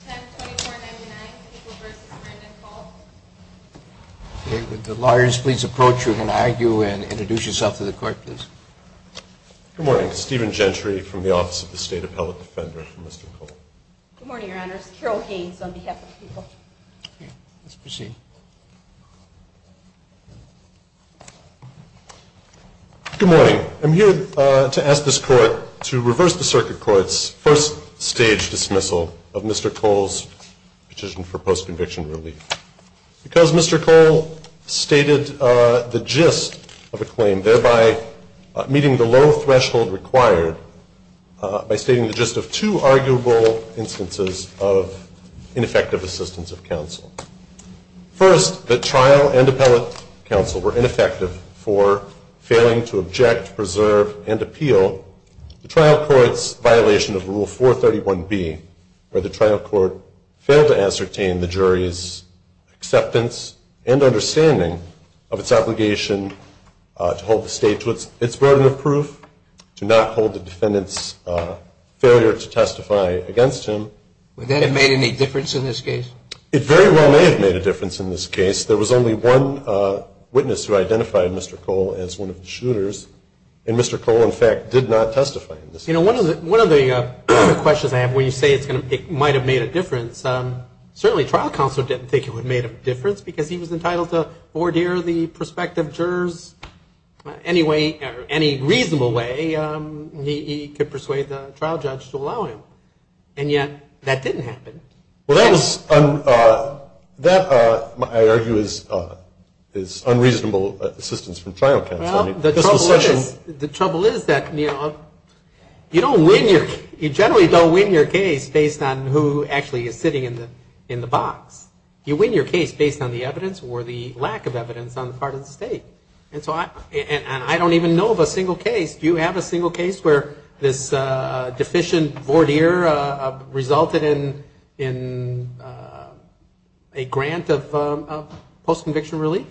Good morning. I'm here to ask this court to reverse the circuit court's first stage dismissal of Mr. Cole's petition for post-conviction relief. Because Mr. Cole stated the gist of a claim, thereby meeting the low threshold required by stating the gist of two arguable instances of ineffective assistance of counsel. First, the trial and appellate counsel were ineffective for failing to object, preserve, and appeal the trial court's violation of Rule 431B, where the trial court failed to ascertain the jury's acceptance and understanding of its obligation to hold the state to its burden of proof, to not hold the defendant's failure to testify against him. Second, the trial and appellate counsel were ineffective for failing to object, preserve, and appeal the trial court's violation of Rule 431B, where the trial court failed to ascertain the jury's acceptance and understanding of its obligation to hold the defendant's failure to testify against him. And yet, that didn't happen. Well, that was, that I argue is unreasonable assistance from trial counsel. Well, the trouble is that you don't win your, you generally don't win your case based on who actually is sitting in the box. You win your case based on the evidence or the lack of evidence on the part of the state. And I don't even know of a single case. Do you have a single case where this deficient voir dire resulted in a grant of post-conviction relief?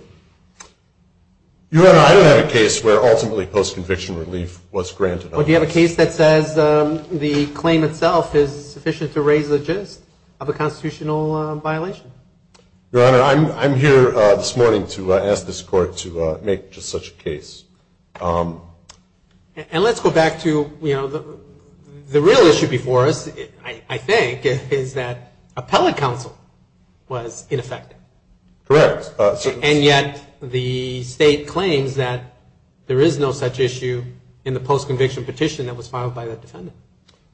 Your Honor, I don't have a case where ultimately post-conviction relief was granted. Well, do you have a case that says the claim itself is sufficient to raise the gist of a constitutional violation? Your Honor, I'm here this morning to ask this Court to make just such a case. And let's go back to, you know, the real issue before us, I think, is that appellate counsel was ineffective. Correct. And yet, the state claims that there is no such issue in the post-conviction petition that was filed by that defendant.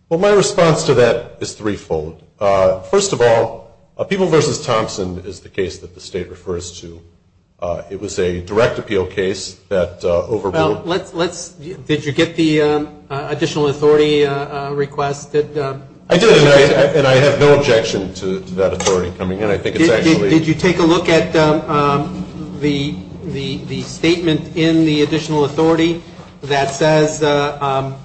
Well, my response to that is threefold. First of all, People v. Thompson is the case that the state refers to. It was a direct appeal case that overruled. Did you get the additional authority request? I did, and I have no objection to that authority coming in. Did you take a look at the statement in the additional authority that says that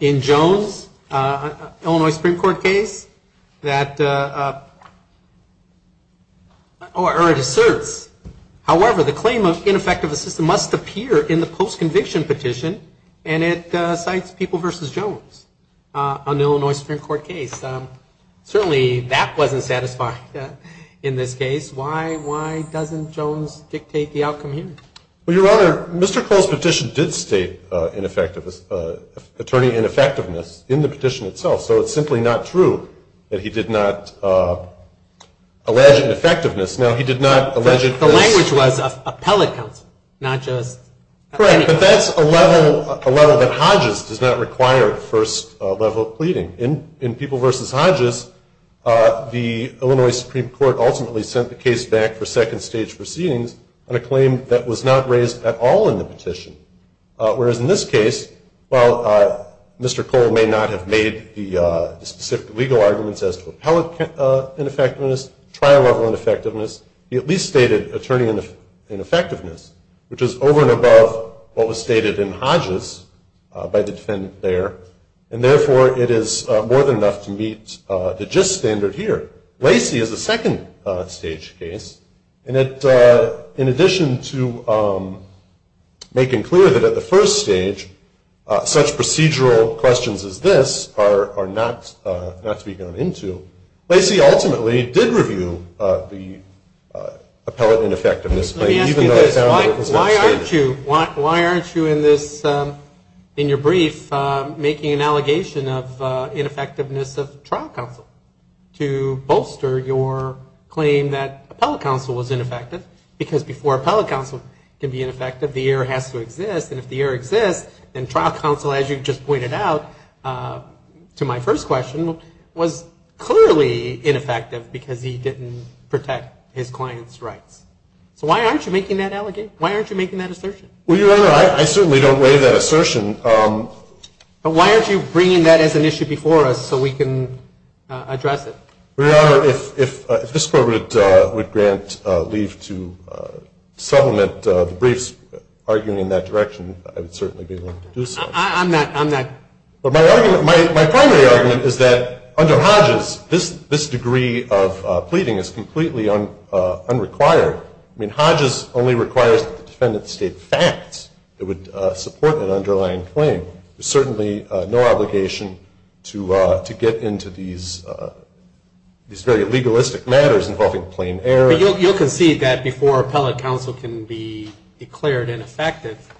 in Jones, Illinois Supreme Court case, that or it asserts, however, the claim of ineffective assistance must appear in the post-conviction petition, and it cites People v. Jones on the Illinois Supreme Court case. Certainly, that wasn't satisfying in this case. Why doesn't Jones dictate the outcome here? Well, Your Honor, Mr. Cole's petition did state attorney ineffectiveness in the petition itself, so it's simply not true that he did not allege ineffectiveness. Now, he did not allege it. Correct, but that's a level that Hodges does not require at first level of pleading. In People v. Hodges, the Illinois Supreme Court ultimately sent the case back for second stage proceedings on a claim that was not raised at all in the petition, whereas in this case, while Mr. Cole may not have made the specific legal arguments as to appellate ineffectiveness, trial-level ineffectiveness, he at least stated attorney ineffectiveness, which is over and above what was stated in Hodges by the defendant there, and therefore it is more than enough to meet the gist standard here. Lacey is a second stage case, and in addition to making clear that at the first stage, such procedural questions as this are not to be gone into, Lacey ultimately did review the appellate ineffectiveness claim, even though it was not stated. Let me ask you this. Why aren't you in this, in your brief, making an allegation of ineffectiveness of trial counsel to bolster your claim that appellate counsel was ineffective, because before appellate counsel can be ineffective, the error has to exist, and if the error exists, then trial counsel, as you just pointed out to my first question, was clearly ineffective because he didn't protect his client's rights. So why aren't you making that allegation? Why aren't you making that assertion? Well, Your Honor, I certainly don't weigh that assertion. But why aren't you bringing that as an issue before us so we can address it? Your Honor, if this Court would grant leave to supplement the brief's argument in that direction, I would certainly be willing to do so. I'm not, I'm not. But my argument, my primary argument is that under Hodges, this degree of pleading is completely unrequired. I mean, Hodges only requires that the defendant state facts that would support an underlying claim. There's certainly no obligation to get into these very legalistic matters involving plain error. Your Honor, you'll concede that before appellate counsel can be declared ineffective,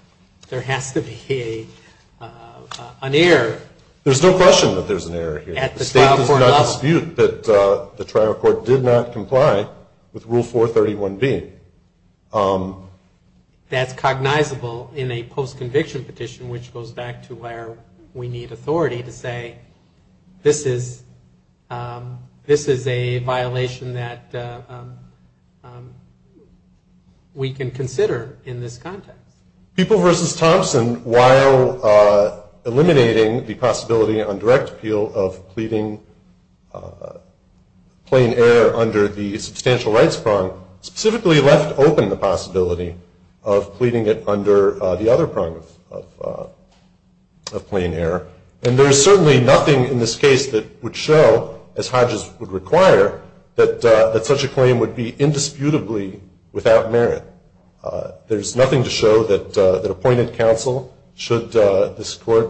there has to be an error. There's no question that there's an error here. At the trial court level. The State does not dispute that the trial court did not comply with Rule 431B. That's cognizable in a post-conviction petition, which goes back to where we need authority to say, this is a violation that we can consider in this context. People v. Thompson, while eliminating the possibility on direct appeal of pleading plain error under the substantial rights prong, specifically left open the possibility of pleading it under the other prong of plain error. And there's certainly nothing in this case that would show, as Hodges would require, that such a claim would be indisputably without merit. There's nothing to show that appointed counsel should, this court,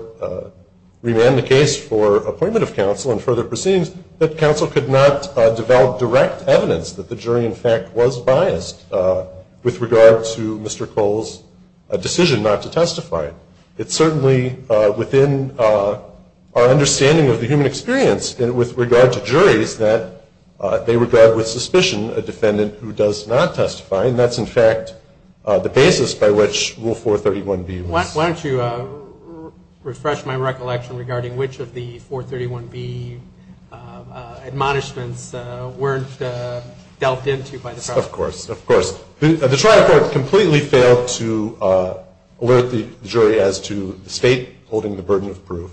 remand the case for appointment of counsel and further proceedings, that counsel could not develop direct evidence that the jury, in fact, was biased with regard to Mr. Cole's decision not to testify. It's certainly within our understanding of the human experience with regard to juries that they regard with suspicion a defendant who does not testify. And that's, in fact, the basis by which Rule 431B was. Why don't you refresh my recollection regarding which of the 431B admonishments weren't delved into by the trial court? Of course. The trial court completely failed to alert the jury as to the State holding the burden of proof.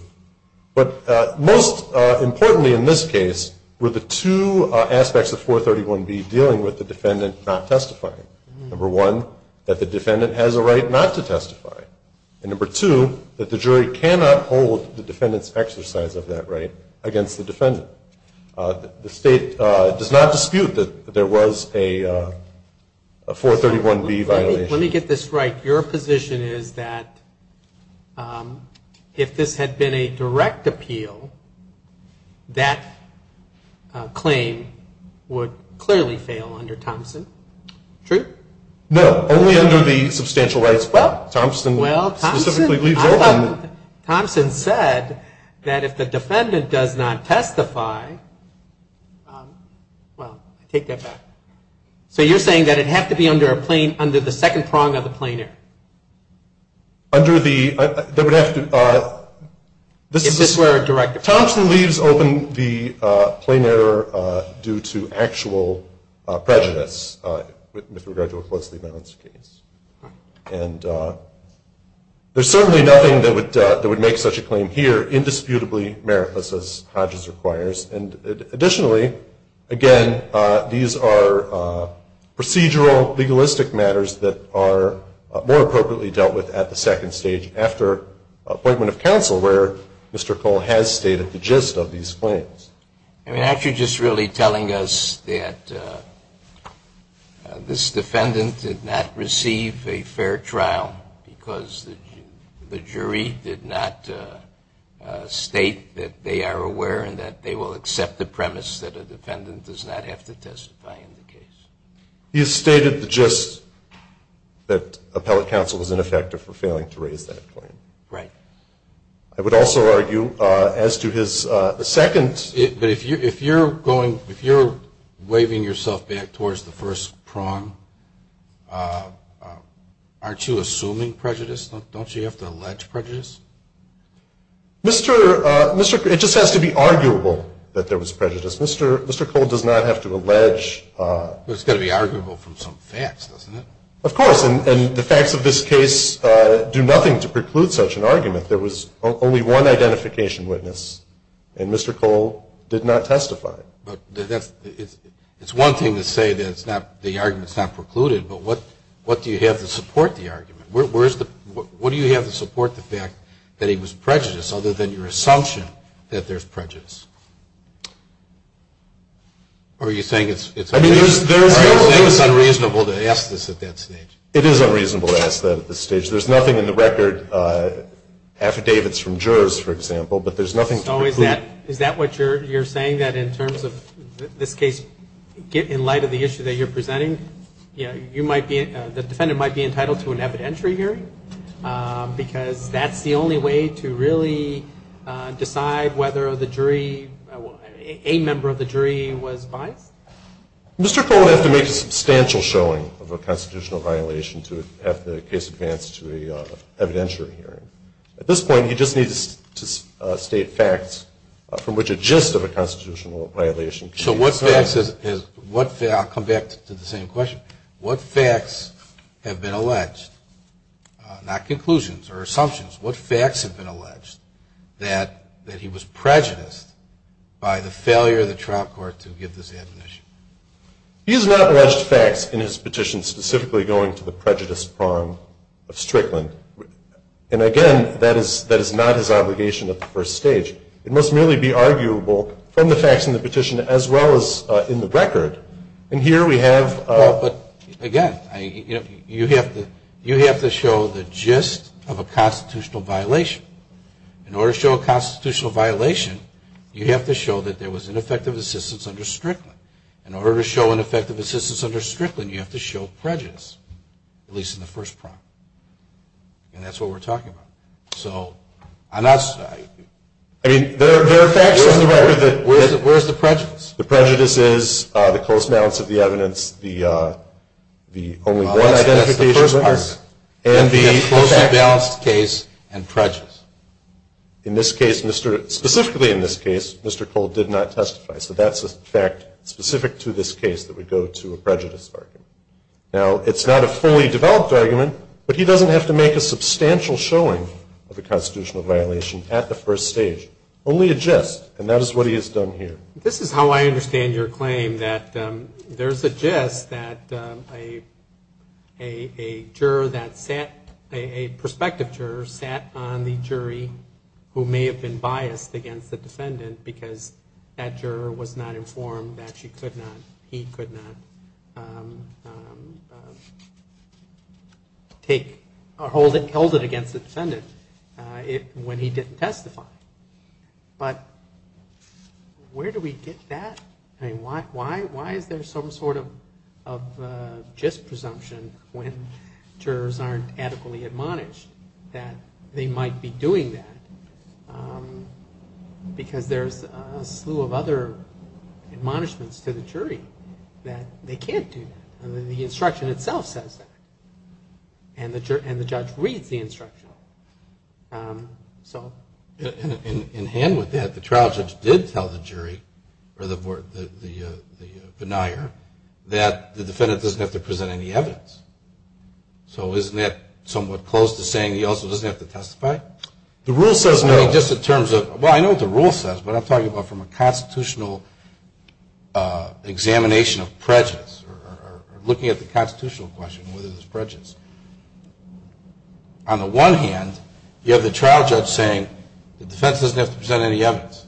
But most importantly in this case were the two aspects of 431B dealing with the defendant not testifying. Number one, that the defendant has a right not to testify. And number two, that the jury cannot hold the defendant's exercise of that right against the defendant. The State does not dispute that there was a 431B violation. Let me get this right. Your position is that if this had been a direct appeal, that claim would clearly fail under Thompson? True? No, only under the substantial rights. Well, Thompson specifically leaves open. Thompson said that if the defendant does not testify, well, take that back. So you're saying that it'd have to be under the second prong of the plain error? Under the, that would have to, this is. If this were a direct appeal. Thompson leaves open the plain error due to actual prejudice with regard to a closely balanced case. And there's certainly nothing that would make such a claim here indisputably meritless as Hodges requires. And additionally, again, these are procedural, legalistic matters that are more appropriately dealt with at the second stage after appointment of counsel where Mr. Cole has stated the gist of these claims. Actually just really telling us that this defendant did not receive a fair trial because the jury did not state that they are aware and that they will accept the premise that a defendant does not have to testify in the case. He has stated the gist that appellate counsel is ineffective for failing to raise that claim. Right. I would also argue as to his second. But if you're going, if you're waving yourself back towards the first prong, aren't you assuming prejudice? Don't you have to allege prejudice? Mr. Cole, it just has to be arguable that there was prejudice. Mr. Cole does not have to allege. But it's got to be arguable from some facts, doesn't it? Of course. And the facts of this case do nothing to preclude such an argument. There was only one identification witness, and Mr. Cole did not testify. But it's one thing to say that the argument is not precluded, but what do you have to support the argument? What do you have to support the fact that he was prejudiced other than your assumption that there's prejudice? Or are you saying it's unreasonable? I'm saying it's unreasonable to ask this at that stage. It is unreasonable to ask that at this stage. There's nothing in the record, affidavits from jurors, for example, but there's nothing to preclude. So is that what you're saying, that in terms of this case, in light of the issue that you're presenting, you might be, the defendant might be entitled to an evidentiary hearing? Because that's the only way to really decide whether the jury, a member of the jury was biased? Mr. Cole would have to make a substantial showing of a constitutional violation to have the case advance to an evidentiary hearing. At this point, he just needs to state facts from which a gist of a constitutional violation can be asserted. So what facts is – I'll come back to the same question. What facts have been alleged, not conclusions or assumptions, what facts have been alleged that he was prejudiced by the failure of the trial court to give this admonition? He has not alleged facts in his petition specifically going to the prejudice prong of Strickland. And, again, that is not his obligation at the first stage. It must merely be arguable from the facts in the petition as well as in the record. Well, but, again, you have to show the gist of a constitutional violation. In order to show a constitutional violation, you have to show that there was ineffective assistance under Strickland. In order to show ineffective assistance under Strickland, you have to show prejudice, at least in the first prong. And that's what we're talking about. So, on that side – I mean, there are facts in the record that – Where's the prejudice? The prejudice is the close balance of the evidence, the only one identification – Well, that's the first part. And the close and balanced case and prejudice. In this case, Mr. – specifically in this case, Mr. Cole did not testify. So that's a fact specific to this case that would go to a prejudice argument. Now, it's not a fully developed argument, but he doesn't have to make a substantial showing of a constitutional violation at the first stage. Only a gist. And that is what he has done here. This is how I understand your claim, that there's a gist that a juror that sat – a prospective juror sat on the jury who may have been biased against the defendant because that juror was not informed that she could not – he could not take – or hold it against the defendant when he didn't testify. But where do we get that? I mean, why is there some sort of gist presumption when jurors aren't adequately admonished that they might be doing that because there's a slew of other admonishments to the jury that they can't do that. The instruction itself says that. And the judge reads the instruction. So? In hand with that, the trial judge did tell the jury or the denier that the defendant doesn't have to present any evidence. So isn't that somewhat close to saying he also doesn't have to testify? The rule says no. Just in terms of – well, I know what the rule says, but I'm talking about from a constitutional examination of prejudice or looking at the constitutional question whether there's prejudice. On the one hand, you have the trial judge saying the defense doesn't have to present any evidence.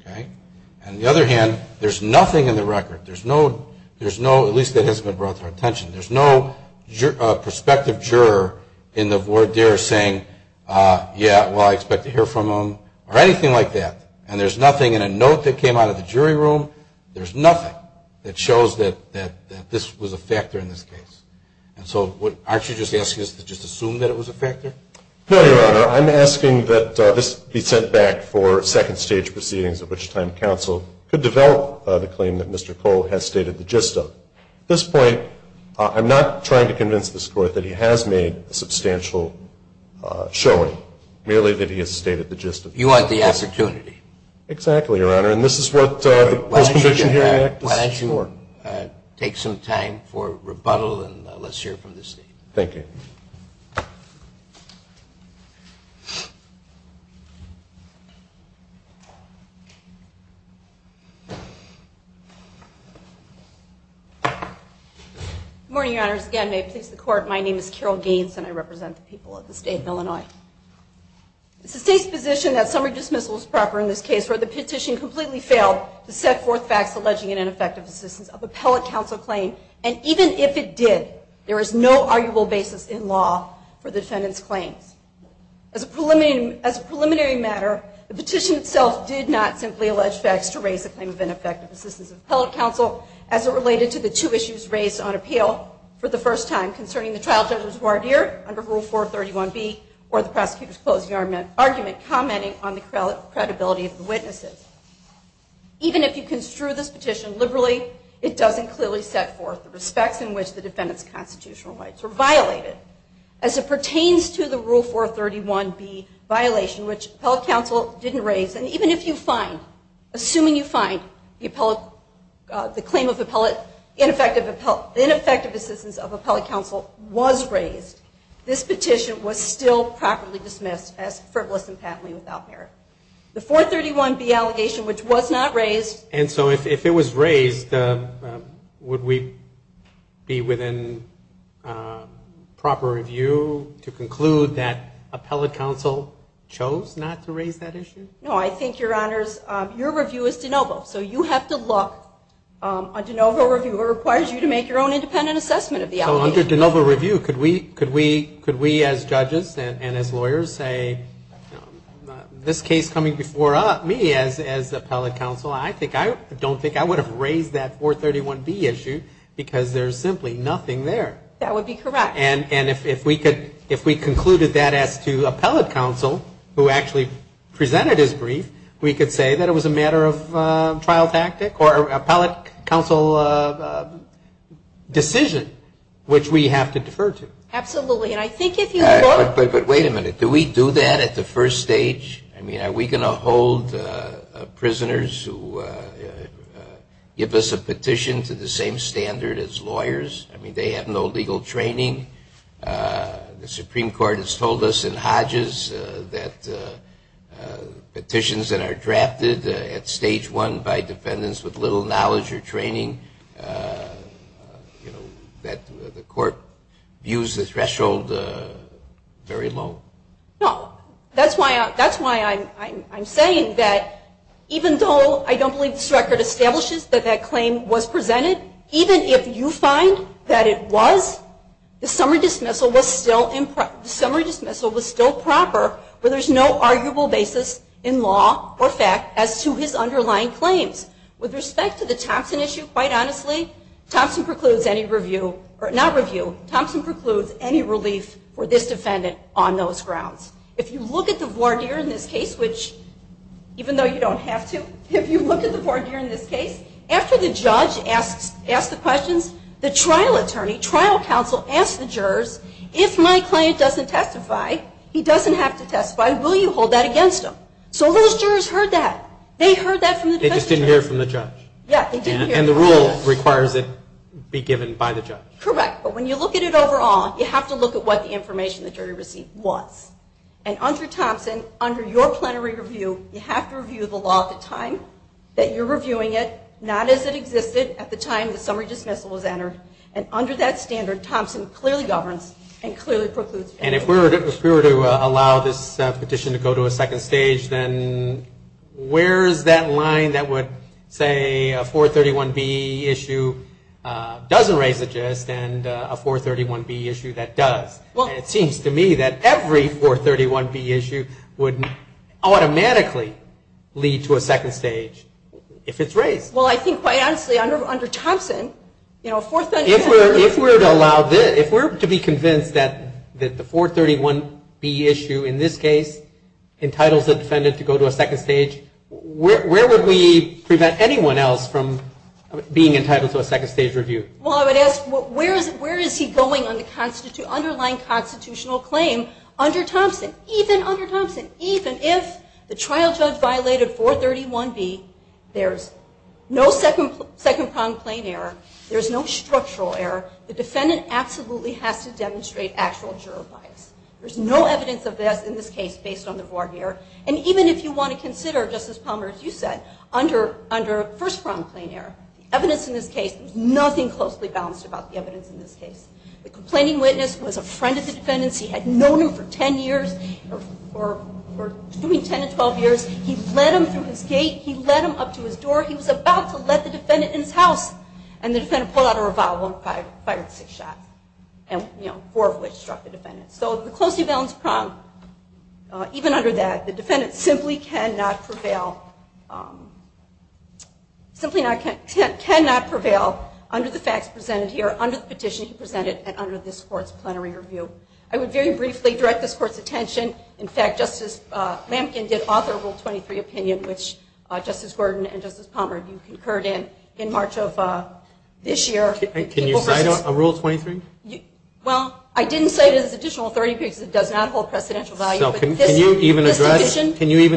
Okay? On the other hand, there's nothing in the record. There's no – at least that hasn't been brought to our attention. There's no prospective juror in the voir dire saying, yeah, well, I expect to hear from him or anything like that. And there's nothing in a note that came out of the jury room. There's nothing that shows that this was a factor in this case. And so aren't you just asking us to just assume that it was a factor? No, Your Honor. I'm asking that this be sent back for second-stage proceedings, at which time counsel could develop the claim that Mr. Cole has stated the gist of. At this point, I'm not trying to convince this Court that he has made a substantial showing, merely that he has stated the gist of it. You want the opportunity. Exactly, Your Honor. And this is what the Post-Conviction Hearing Act is for. Why don't you take some time for rebuttal, and let's hear from the State. Thank you. Good morning, Your Honors. Again, may it please the Court, my name is Carol Gaines, and I represent the people of the State of Illinois. It's the State's position that summary dismissal is proper in this case, where the petition completely failed to set forth facts alleging an ineffective assistance of appellate counsel claim, and even if it did, there is no arguable basis in law for the defendant's claims. As a preliminary matter, the petition itself did not simply allege facts to raise a claim of ineffective assistance of appellate counsel, as it related to the two issues raised on appeal for the first time, concerning the trial judge's voir dire under Rule 431B, or the prosecutor's closing argument, commenting on the credibility of the witnesses. Even if you construe this petition liberally, it doesn't clearly set forth the respects in which the defendant's constitutional rights were violated, as it pertains to the Rule 431B violation, which appellate counsel didn't raise, and even if you find, assuming you find the claim of ineffective assistance of appellate counsel was raised, this petition was still properly dismissed as frivolous and patently without merit. The 431B allegation, which was not raised. And so if it was raised, would we be within proper review to conclude that appellate counsel chose not to raise that issue? No, I think, Your Honors, your review is de novo. So you have to look. A de novo reviewer requires you to make your own independent assessment of the allegation. So under de novo review, could we, as judges and as lawyers, say this case coming before me as appellate counsel, I don't think I would have raised that 431B issue because there's simply nothing there. That would be correct. And if we concluded that as to appellate counsel, who actually presented his brief, we could say that it was a matter of trial which we have to defer to. Absolutely. And I think if you look. But wait a minute. Do we do that at the first stage? I mean, are we going to hold prisoners who give us a petition to the same standard as lawyers? I mean, they have no legal training. The Supreme Court has told us in Hodges that petitions that are drafted at stage one by defendants with little knowledge or training, that the court views the threshold very low. No. That's why I'm saying that even though I don't believe this record establishes that that claim was presented, even if you find that it was, the summary dismissal was still proper, where there's no arguable basis in law or fact as to his underlying claims. With respect to the Thompson issue, quite honestly, Thompson precludes any review. Not review. Thompson precludes any relief for this defendant on those grounds. If you look at the voir dire in this case, which even though you don't have to, if you look at the voir dire in this case, after the judge asks the questions, the trial attorney, trial counsel, asks the jurors, if my client doesn't testify, he doesn't have to testify, will you hold that against him? So those jurors heard that. They heard that from the defense attorney. They just didn't hear it from the judge. Yeah, they didn't hear it from the judge. And the rule requires it be given by the judge. Correct. But when you look at it overall, you have to look at what the information the jury received was. And under Thompson, under your plenary review, you have to review the law at the time that you're reviewing it, not as it existed at the time the summary dismissal was entered. And under that standard, Thompson clearly governs and clearly precludes. And if we were to allow this petition to go to a second stage, then where is that line that would say a 431B issue doesn't raise the gist and a 431B issue that does? It seems to me that every 431B issue would automatically lead to a second stage if it's raised. Well, I think, quite honestly, under Thompson, you know, 431B. If we're to be convinced that the 431B issue in this case entitles a defendant to go to a second stage, where would we prevent anyone else from being entitled to a second stage review? Well, I would ask where is he going on the underlying constitutional claim under Thompson? Even under Thompson, even if the trial judge violated 431B, there's no second-pronged plain error. There's no structural error. The defendant absolutely has to demonstrate actual juror bias. There's no evidence of this in this case based on the reward error. And even if you want to consider, Justice Palmer, as you said, under first-pronged plain error, the evidence in this case, there's nothing closely balanced about the evidence in this case. The complaining witness was a friend of the defendant's. He had known him for 10 years, or between 10 and 12 years. He led him through his gate. He led him up to his door. He was about to let the defendant in his house. And the defendant pulled out a revolver and fired six shots, four of which struck the defendant. So the closely balanced prong, even under that, the defendant simply cannot prevail under the facts presented here, under the petition he presented, and under this Court's plenary review. I would very briefly direct this Court's attention. In fact, Justice Lampkin did author a Rule 23 opinion, which Justice Gordon and Justice Palmer, you concurred in, in March of this year. Can you cite a Rule 23? Well, I didn't cite it as an additional 30 pages. It does not hold precedential value. So can you even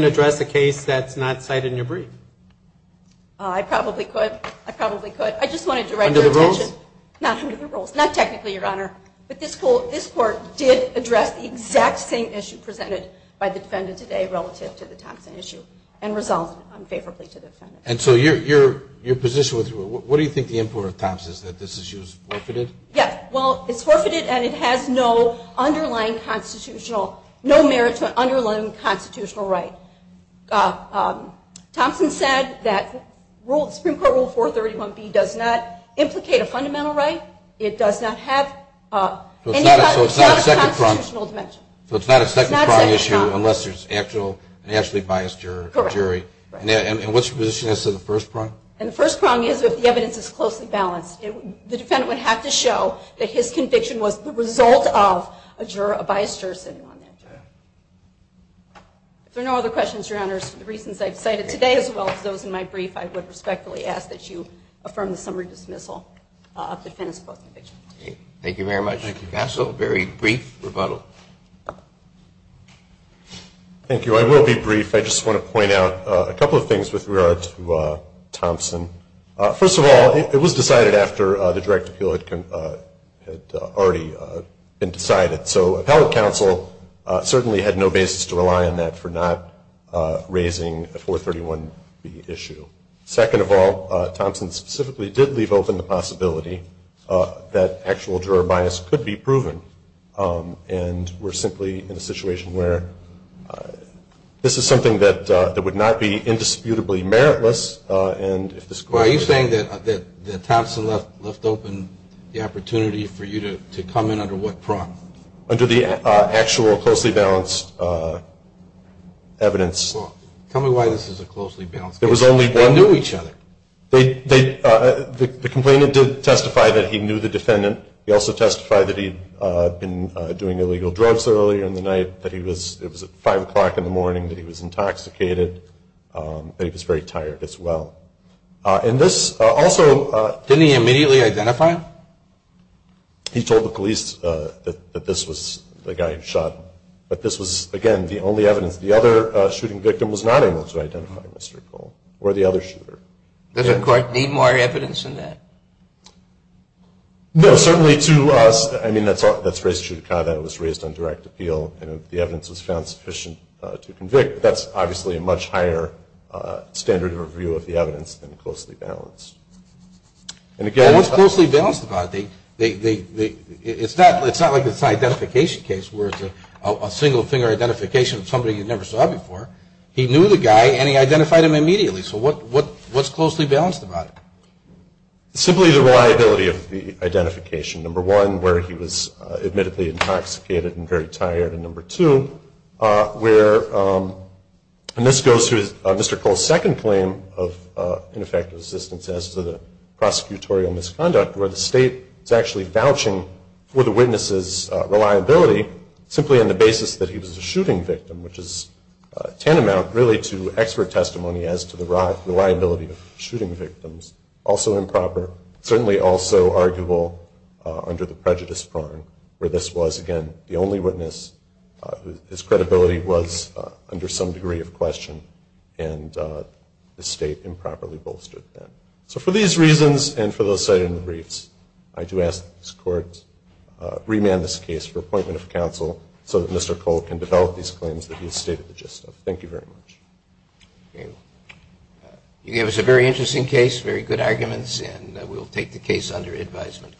address a case that's not cited in your brief? I probably could. I probably could. Under the rules? Not under the rules. Not technically, Your Honor. But this Court did address the exact same issue presented by the defendant today relative to the Thompson issue, and resolved unfavorably to the defendant. And so your position, what do you think the import of Thompson is, that this issue is forfeited? Yes. Well, it's forfeited and it has no underlying constitutional, no merit to an underlying constitutional right. Thompson said that the Supreme Court Rule 431B does not implicate a fundamental right. It does not have any constitutional dimension. So it's not a second-prong issue unless there's an actually biased jury. Correct. And what's your position as to the first prong? And the first prong is if the evidence is closely balanced. The defendant would have to show that his conviction was the result of a juror, a biased juror sitting on that jury. If there are no other questions, Your Honors, for the reasons I've cited today as well as those in my brief, I would respectfully ask that you affirm the summary dismissal of the defendant's post-conviction. Thank you very much. Thank you, counsel. Very brief rebuttal. Thank you. I will be brief. I just want to point out a couple of things with regard to Thompson. First of all, it was decided after the direct appeal had already been decided. So appellate counsel certainly had no basis to rely on that for not raising the 431B issue. Second of all, Thompson specifically did leave open the possibility that actual juror bias could be proven. And we're simply in a situation where this is something that would not be indisputably meritless. Are you saying that Thompson left open the opportunity for you to comment under what prong? Under the actual closely balanced evidence. Tell me why this is a closely balanced case. They knew each other. The complainant did testify that he knew the defendant. He also testified that he had been doing illegal drugs earlier in the night, that it was at 5 o'clock in the morning, that he was intoxicated, that he was very tired as well. And this also Didn't he immediately identify him? He told the police that this was the guy who shot him. But this was, again, the only evidence. The other shooting victim was not able to identify Mr. Cole or the other shooter. Does the court need more evidence than that? No, certainly to us. I mean, that's raised on direct appeal. And if the evidence was found sufficient to convict, that's obviously a much higher standard of review of the evidence than closely balanced. What's closely balanced about it? It's not like it's an identification case where it's a single finger identification of somebody you never saw before. He knew the guy and he identified him immediately. So what's closely balanced about it? Simply the reliability of the identification. Number one, where he was admittedly intoxicated and very tired. And number two, where, and this goes to Mr. Cole's second claim of ineffective assistance as to the prosecutorial misconduct, where the state is actually vouching for the witness's reliability simply on the basis that he was a shooting victim, which is tantamount really to expert testimony as to the reliability of shooting victims, also improper, certainly also arguable under the prejudice prong where this was, again, the only witness whose credibility was under some degree of question, and the state improperly bolstered that. So for these reasons and for those cited in the briefs, I do ask that this Court remand this case for appointment of counsel so that Mr. Cole can develop these claims that he has stated the gist of. Thank you very much. Okay. You gave us a very interesting case, very good arguments, and we'll take the case under advisement.